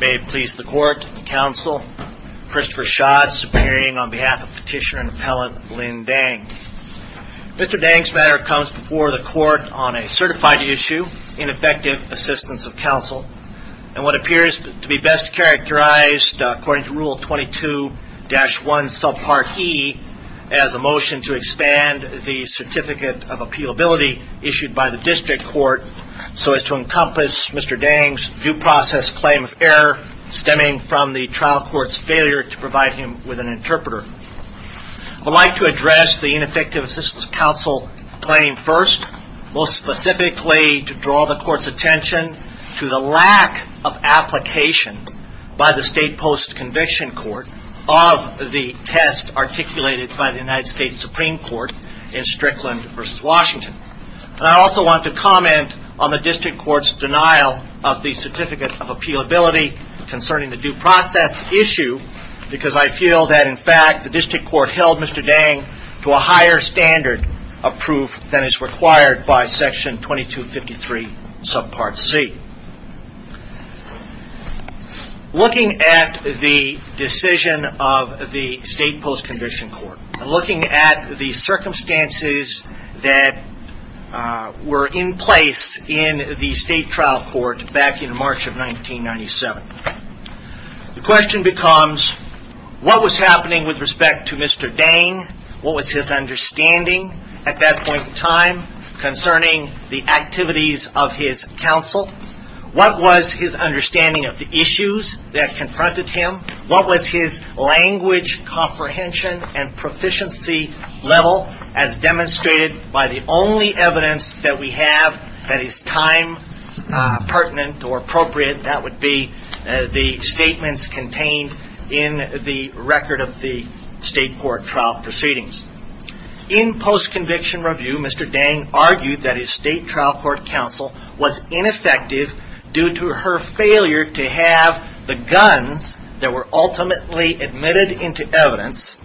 May it please the court, counsel, Christopher Schatz appearing on behalf of Petitioner and Appellant Lynn Dang. Mr. Dang's matter comes before the court on a certified issue in effective assistance of counsel and what appears to be best characterized according to Rule 22-1, Subpart E, as a motion to expand the Certificate of Appealability issued by the District Court so as to encompass Mr. Dang's due process claim of error stemming from the trial court's failure to provide him with an interpreter. I would like to address the ineffective assistance of counsel claim first, most specifically to draw the court's attention to the lack of application by the state post-conviction court of the test articulated by the United States Supreme Court in Strickland v. Washington. I also want to comment on the District Court's denial of the Certificate of Appealability concerning the due process issue because I feel that in fact the District Court held Mr. Dang to a higher standard of proof than is required by Section 22-53, Subpart C. Looking at the decision of the state post-condition court, looking at the circumstances that were in place in the state trial court back in March of 1997, the question becomes what was happening with respect to Mr. Dang? What was his understanding at that point in time concerning the activities of his counsel? What was his understanding of the issues that confronted him? What was his language comprehension and proficiency level as demonstrated by the only evidence that we have that is time pertinent or appropriate? That would be the statements contained in the record of the state court trial proceedings. In post-conviction review, Mr. Dang argued that his state trial court counsel was ineffective due to her failure to have the guns that were ultimately admitted into evidence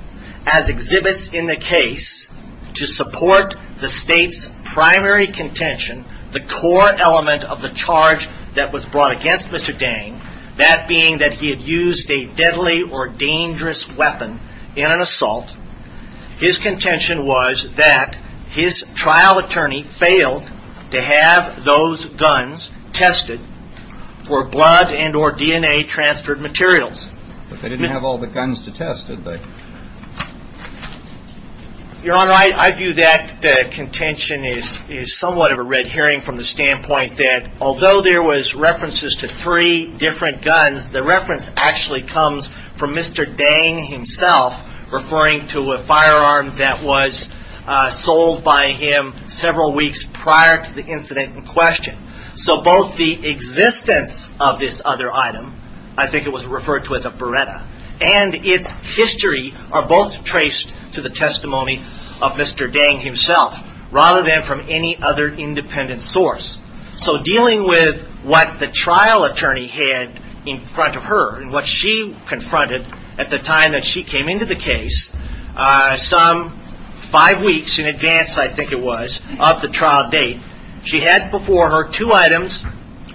as exhibits in the case to support the state's primary contention, the core element of the charge that was brought against Mr. Dang, that being that he had used a deadly or dangerous weapon in an assault. His contention was that his trial attorney failed to have those guns tested for blood and or DNA transferred materials. But they didn't have all the guns to test, did they? Your Honor, I view that contention as somewhat of a red herring from the standpoint that although there was references to three different guns, the reference actually comes from Mr. Dang himself referring to a firearm that was sold by him several weeks prior to the incident in question. So both the existence of this other item, I think it was referred to as a Beretta, and its history are both traced to the testimony of Mr. Dang himself rather than from any other independent source. So dealing with what the trial attorney had in front of her and what she confronted at the time that she came into the case, some five weeks in advance, I think it was, of the trial date, she had before her two items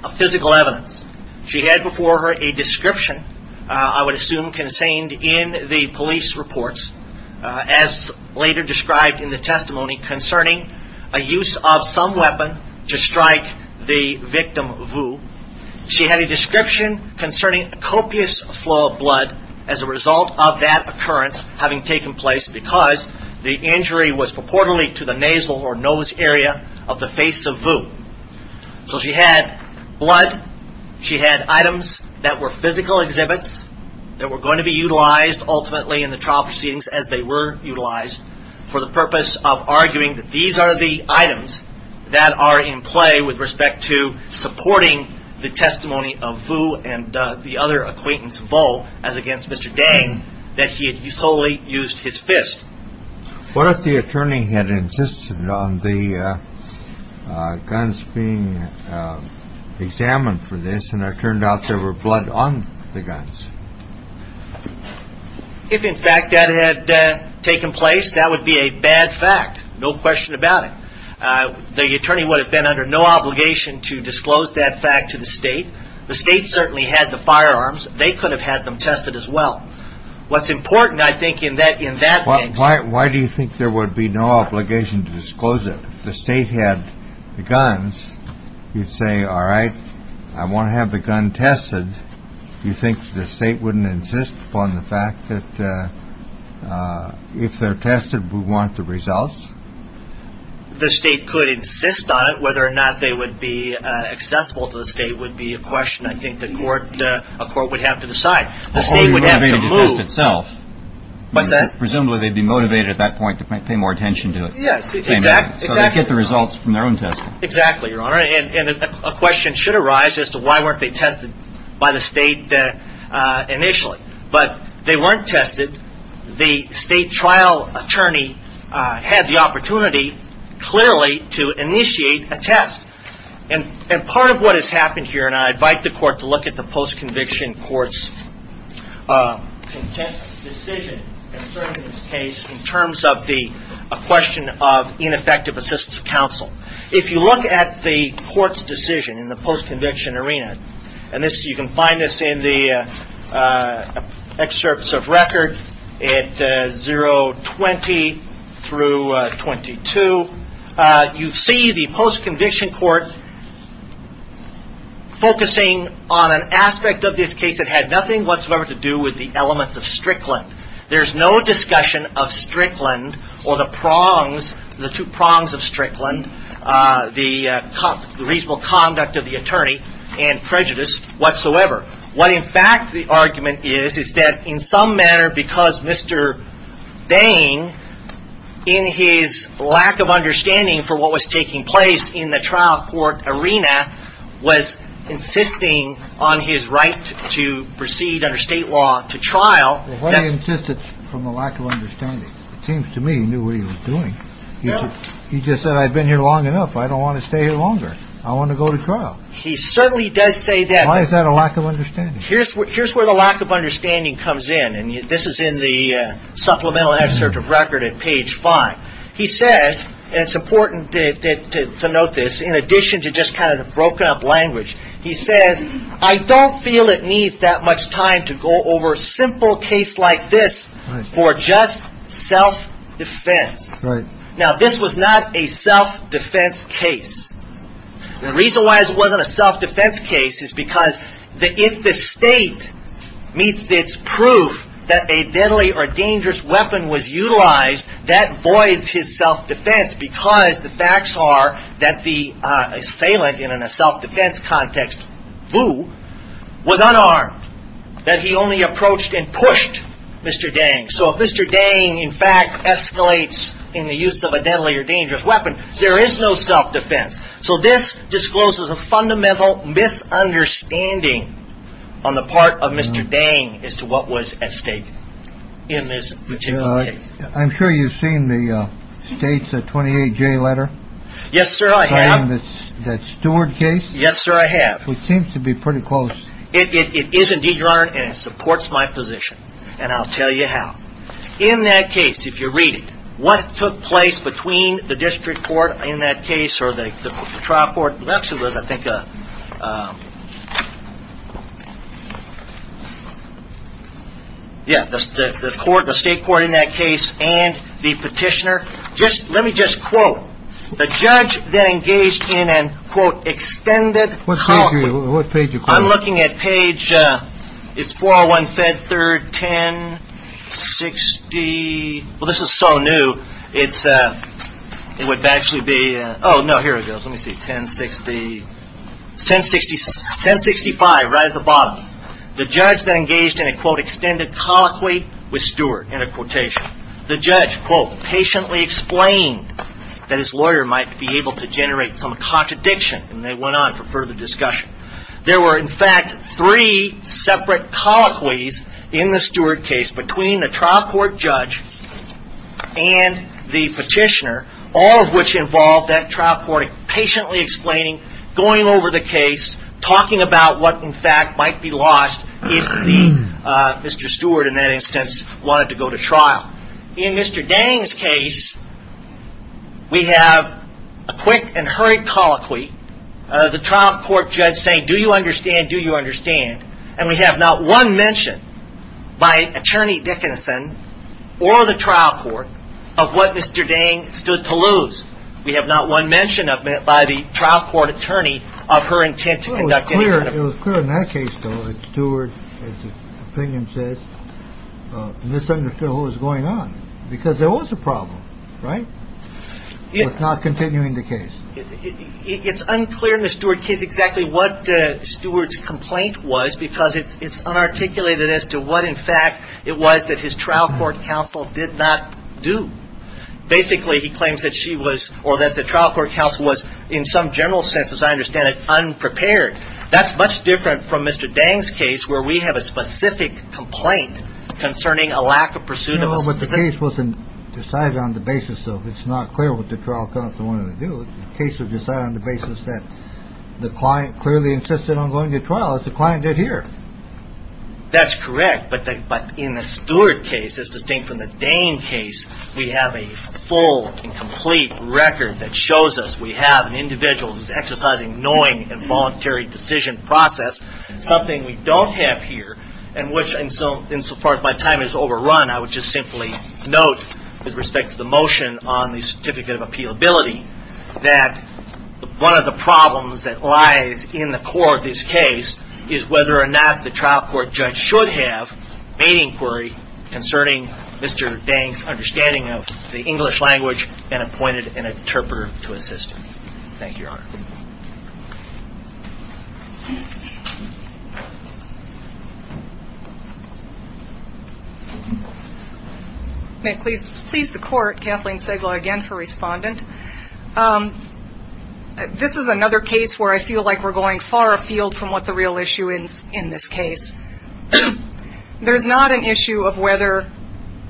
of physical evidence. She had before her a description, I would assume contained in the police reports, as later described in the testimony concerning a use of some weapon to strike the victim Vu. She had a description concerning a copious flow of blood as a result of that occurrence having taken place because the injury was purportedly to the nasal or nose area of the face of Vu. So she had blood, she had items that were physical exhibits that were going to be utilized ultimately in the trial proceedings as they were utilized for the purpose of arguing that these are the items that are in play with respect to supporting the testimony of Vu and the other acquaintance Vu as against Mr. Dang that he had solely used his fist. What if the attorney had insisted on the guns being examined for this and it turned out there were blood on the guns? If in fact that had taken place, that would be a bad fact. No question about it. The attorney would have been under no obligation to disclose that fact to the state. The state certainly had the firearms. They could have had them tested as well. What's important, I think, in that case... Why do you think there would be no obligation to disclose it? If the state had the guns, you'd say, all right, I want to have the gun tested. You think the state wouldn't insist upon the fact that if they're tested, we want the results? The state could insist on it. Whether or not they would be accessible to the state would be a question, I think, that a court would have to decide. The state would have to move. Presumably they'd be motivated at that point to pay more attention to it. Yes, exactly. So they'd get the results from their own testing. Exactly, Your Honor. And a question should arise as to why weren't they tested by the state initially. But they weren't tested. The state trial attorney had the opportunity clearly to initiate a test. And part of what has happened here, and I invite the court to look at the post-conviction court's decision concerning this case in terms of the question of ineffective assistive counsel. If you look at the court's decision in the post-conviction arena, and you can find this in the excerpts of record at 020 through 022, you see the post-conviction court focusing on an aspect of this case that had nothing whatsoever to do with the elements of Strickland. There's no discussion of Strickland or the prongs, the two prongs of Strickland, the reasonable conduct of the attorney and prejudice whatsoever. What in fact the argument is is that in some manner because Mr. Bain, in his lack of understanding for what was taking place in the trial court arena, was insisting on his right to proceed under state law to trial. Well, what he insisted from a lack of understanding. It seems to me he knew what he was doing. He just said, I've been here long enough. I don't want to stay here longer. I want to go to trial. He certainly does say that. Why is that a lack of understanding? Here's where the lack of understanding comes in, and this is in the supplemental excerpt of record at page five. He says, and it's important to note this, in addition to just kind of the broken up language, he says, I don't feel it needs that much time to go over a simple case like this for just self-defense. Now, this was not a self-defense case. The reason why it wasn't a self-defense case is because if the state meets its proof that a deadly or dangerous weapon was utilized, that voids his self-defense because the facts are that the assailant in a self-defense context, Boo, was unarmed, that he only approached and pushed Mr. Dang. So if Mr. Dang, in fact, escalates in the use of a deadly or dangerous weapon, there is no self-defense. So this discloses a fundamental misunderstanding on the part of Mr. Dang as to what was at stake in this particular case. I'm sure you've seen the state's 28-J letter. Yes, sir, I have. That Stewart case. Yes, sir, I have. It seems to be pretty close. It is indeed, Your Honor, and it supports my position, and I'll tell you how. In that case, if you read it, what took place between the district court in that case or the trial court, it actually was, I think, the state court in that case and the petitioner. Let me just quote. The judge then engaged in an, quote, extended call. What page are you quoting? I'm looking at page 401, Fed 3rd, 1060. Well, this is so new. It would actually be, oh, no, here it goes. Let me see. 1060. It's 1065, right at the bottom. The judge then engaged in a, quote, extended colloquy with Stewart in a quotation. The judge, quote, patiently explained that his lawyer might be able to generate some contradiction, and they went on for further discussion. There were, in fact, three separate colloquies in the Stewart case between the trial court judge and the petitioner, all of which involved that trial court patiently explaining, going over the case, talking about what, in fact, might be lost if Mr. Stewart, in that instance, wanted to go to trial. In Mr. Dang's case, we have a quick and hurried colloquy. The trial court judge saying, do you understand? Do you understand? And we have not one mention by Attorney Dickinson or the trial court of what Mr. Dang stood to lose. We have not one mention of it by the trial court attorney of her intent to conduct. It was clear in that case, though, that Stewart's opinion says misunderstood what was going on because there was a problem. Right. It was not continuing the case. It's unclear in the Stewart case exactly what Stewart's complaint was because it's unarticulated as to what, in fact, it was that his trial court counsel did not do. Basically, he claims that she was or that the trial court counsel was in some general sense, as I understand it, unprepared. That's much different from Mr. Dang's case where we have a specific complaint concerning a lack of pursuit of a specific. The case wasn't decided on the basis of it's not clear what the trial counsel wanted to do. The case was decided on the basis that the client clearly insisted on going to trial as the client did here. That's correct. But in the Stewart case, as distinct from the Dang case, we have a full and complete record that shows us we have an individual who's exercising knowing and voluntary decision process, something we don't have here. Insofar as my time is overrun, I would just simply note with respect to the motion on the certificate of appealability, that one of the problems that lies in the core of this case is whether or not the trial court judge should have made inquiry concerning Mr. Dang's understanding of the English language and appointed an interpreter to assist him. Thank you, Your Honor. May it please the Court, Kathleen Segal again for Respondent. This is another case where I feel like we're going far afield from what the real issue is in this case. There's not an issue of whether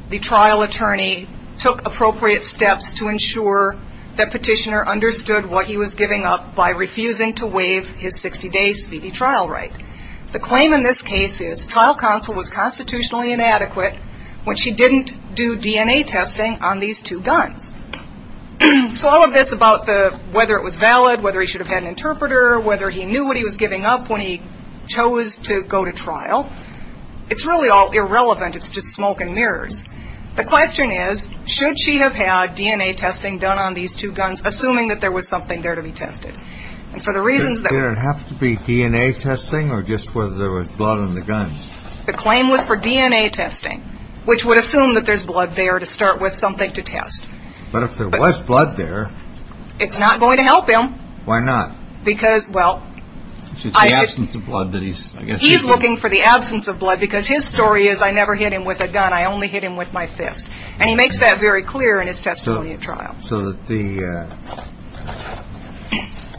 the trial attorney took appropriate steps to ensure that Petitioner understood what he was giving up by refusing to waive his 60-day speedy trial right. The claim in this case is trial counsel was constitutionally inadequate when she didn't do DNA testing on these two guns. So all of this about whether it was valid, whether he should have had an interpreter, whether he knew what he was giving up when he chose to go to trial, it's really all irrelevant. It's just smoke and mirrors. The question is, should she have had DNA testing done on these two guns, assuming that there was something there to be tested? Does there have to be DNA testing or just whether there was blood on the guns? The claim was for DNA testing, which would assume that there's blood there to start with something to test. But if there was blood there... It's not going to help him. Why not? Because, well... It's the absence of blood that he's... He's looking for the absence of blood because his story is, I never hit him with a gun. I only hit him with my fist. And he makes that very clear in his testimony at trial. So that the...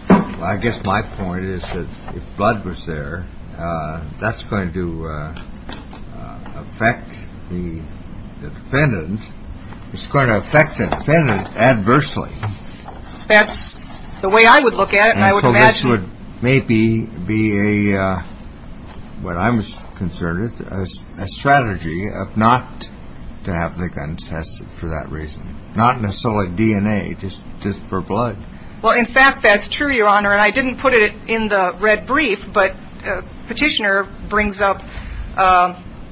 Well, I guess my point is that if blood was there, that's going to affect the defendant. It's going to affect the defendant adversely. That's the way I would look at it, and I would imagine... And so this would maybe be a, what I'm concerned with, a strategy of not to have the guns tested for that reason. Not necessarily DNA, just for blood. Well, in fact, that's true, Your Honor. And I didn't put it in the red brief, but Petitioner brings up, well,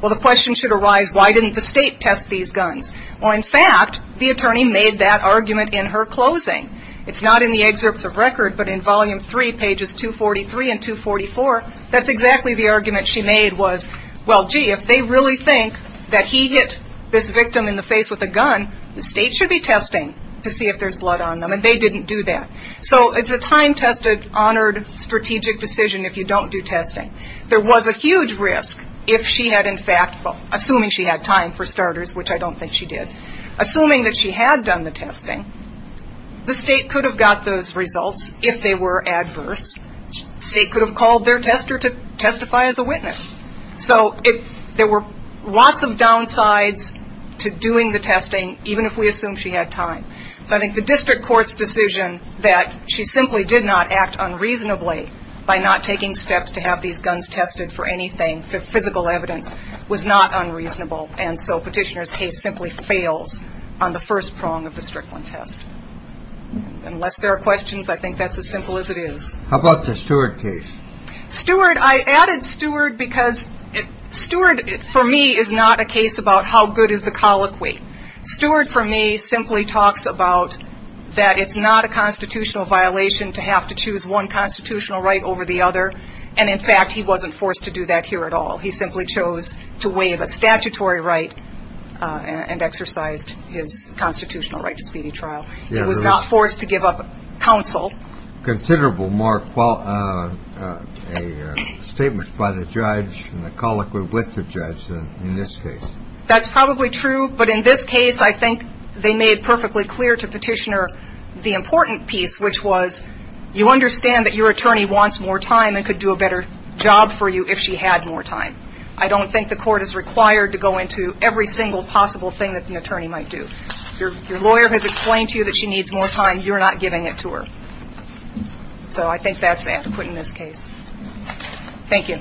the question should arise, why didn't the state test these guns? Well, in fact, the attorney made that argument in her closing. It's not in the excerpts of record, but in Volume 3, pages 243 and 244, that's exactly the argument she made was, well, gee, if they really think that he hit this victim in the face with a gun, the state should be testing to see if there's blood on them. And they didn't do that. So it's a time-tested, honored, strategic decision if you don't do testing. There was a huge risk if she had in fact... Assuming she had time, for starters, which I don't think she did. Assuming that she had done the testing, the state could have got those results if they were adverse. The state could have called their tester to testify as a witness. So there were lots of downsides to doing the testing, even if we assume she had time. So I think the district court's decision that she simply did not act unreasonably by not taking steps to have these guns tested for anything, for physical evidence, was not unreasonable. And so Petitioner's case simply fails on the first prong of the Strickland test. Unless there are questions, I think that's as simple as it is. How about the Stewart case? Stewart, I added Stewart because Stewart, for me, is not a case about how good is the colloquy. Stewart, for me, simply talks about that it's not a constitutional violation to have to choose one constitutional right over the other. And in fact, he wasn't forced to do that here at all. He simply chose to waive a statutory right and exercised his constitutional right to speedy trial. He was not forced to give up counsel. Considerable more statements by the judge and the colloquy with the judge than in this case. That's probably true. But in this case, I think they made perfectly clear to Petitioner the important piece, which was you understand that your attorney wants more time and could do a better job for you if she had more time. I don't think the court is required to go into every single possible thing that the attorney might do. Your lawyer has explained to you that she needs more time. You're not giving it to her. So I think that's adequate in this case. Thank you.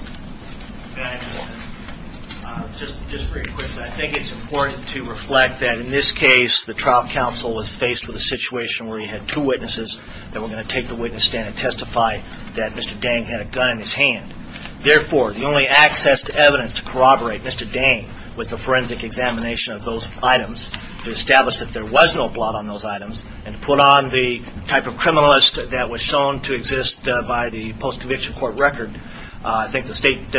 Just very quickly, I think it's important to reflect that in this case, the trial counsel was faced with a situation where he had two witnesses that were going to take the witness stand and testify that Mr. Dang had a gun in his hand. Therefore, the only access to evidence to corroborate Mr. Dang was the forensic examination of those items to establish that there was no blot on those items and put on the type of criminalist that was shown to exist by the post-conviction court record. I think the state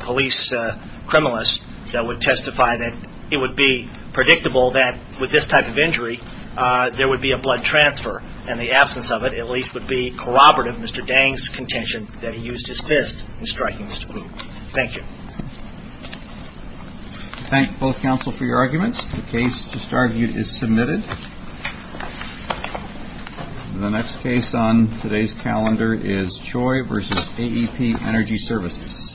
police criminalist that would testify that it would be predictable that with this type of injury, there would be a blood transfer. And the absence of it at least would be corroborative of Mr. Dang's contention that he used his fist in striking Mr. Kluge. Thank you. Thank both counsel for your arguments. The case just argued is submitted. The next case on today's calendar is Choi v. AEP Energy Services.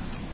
Thank you.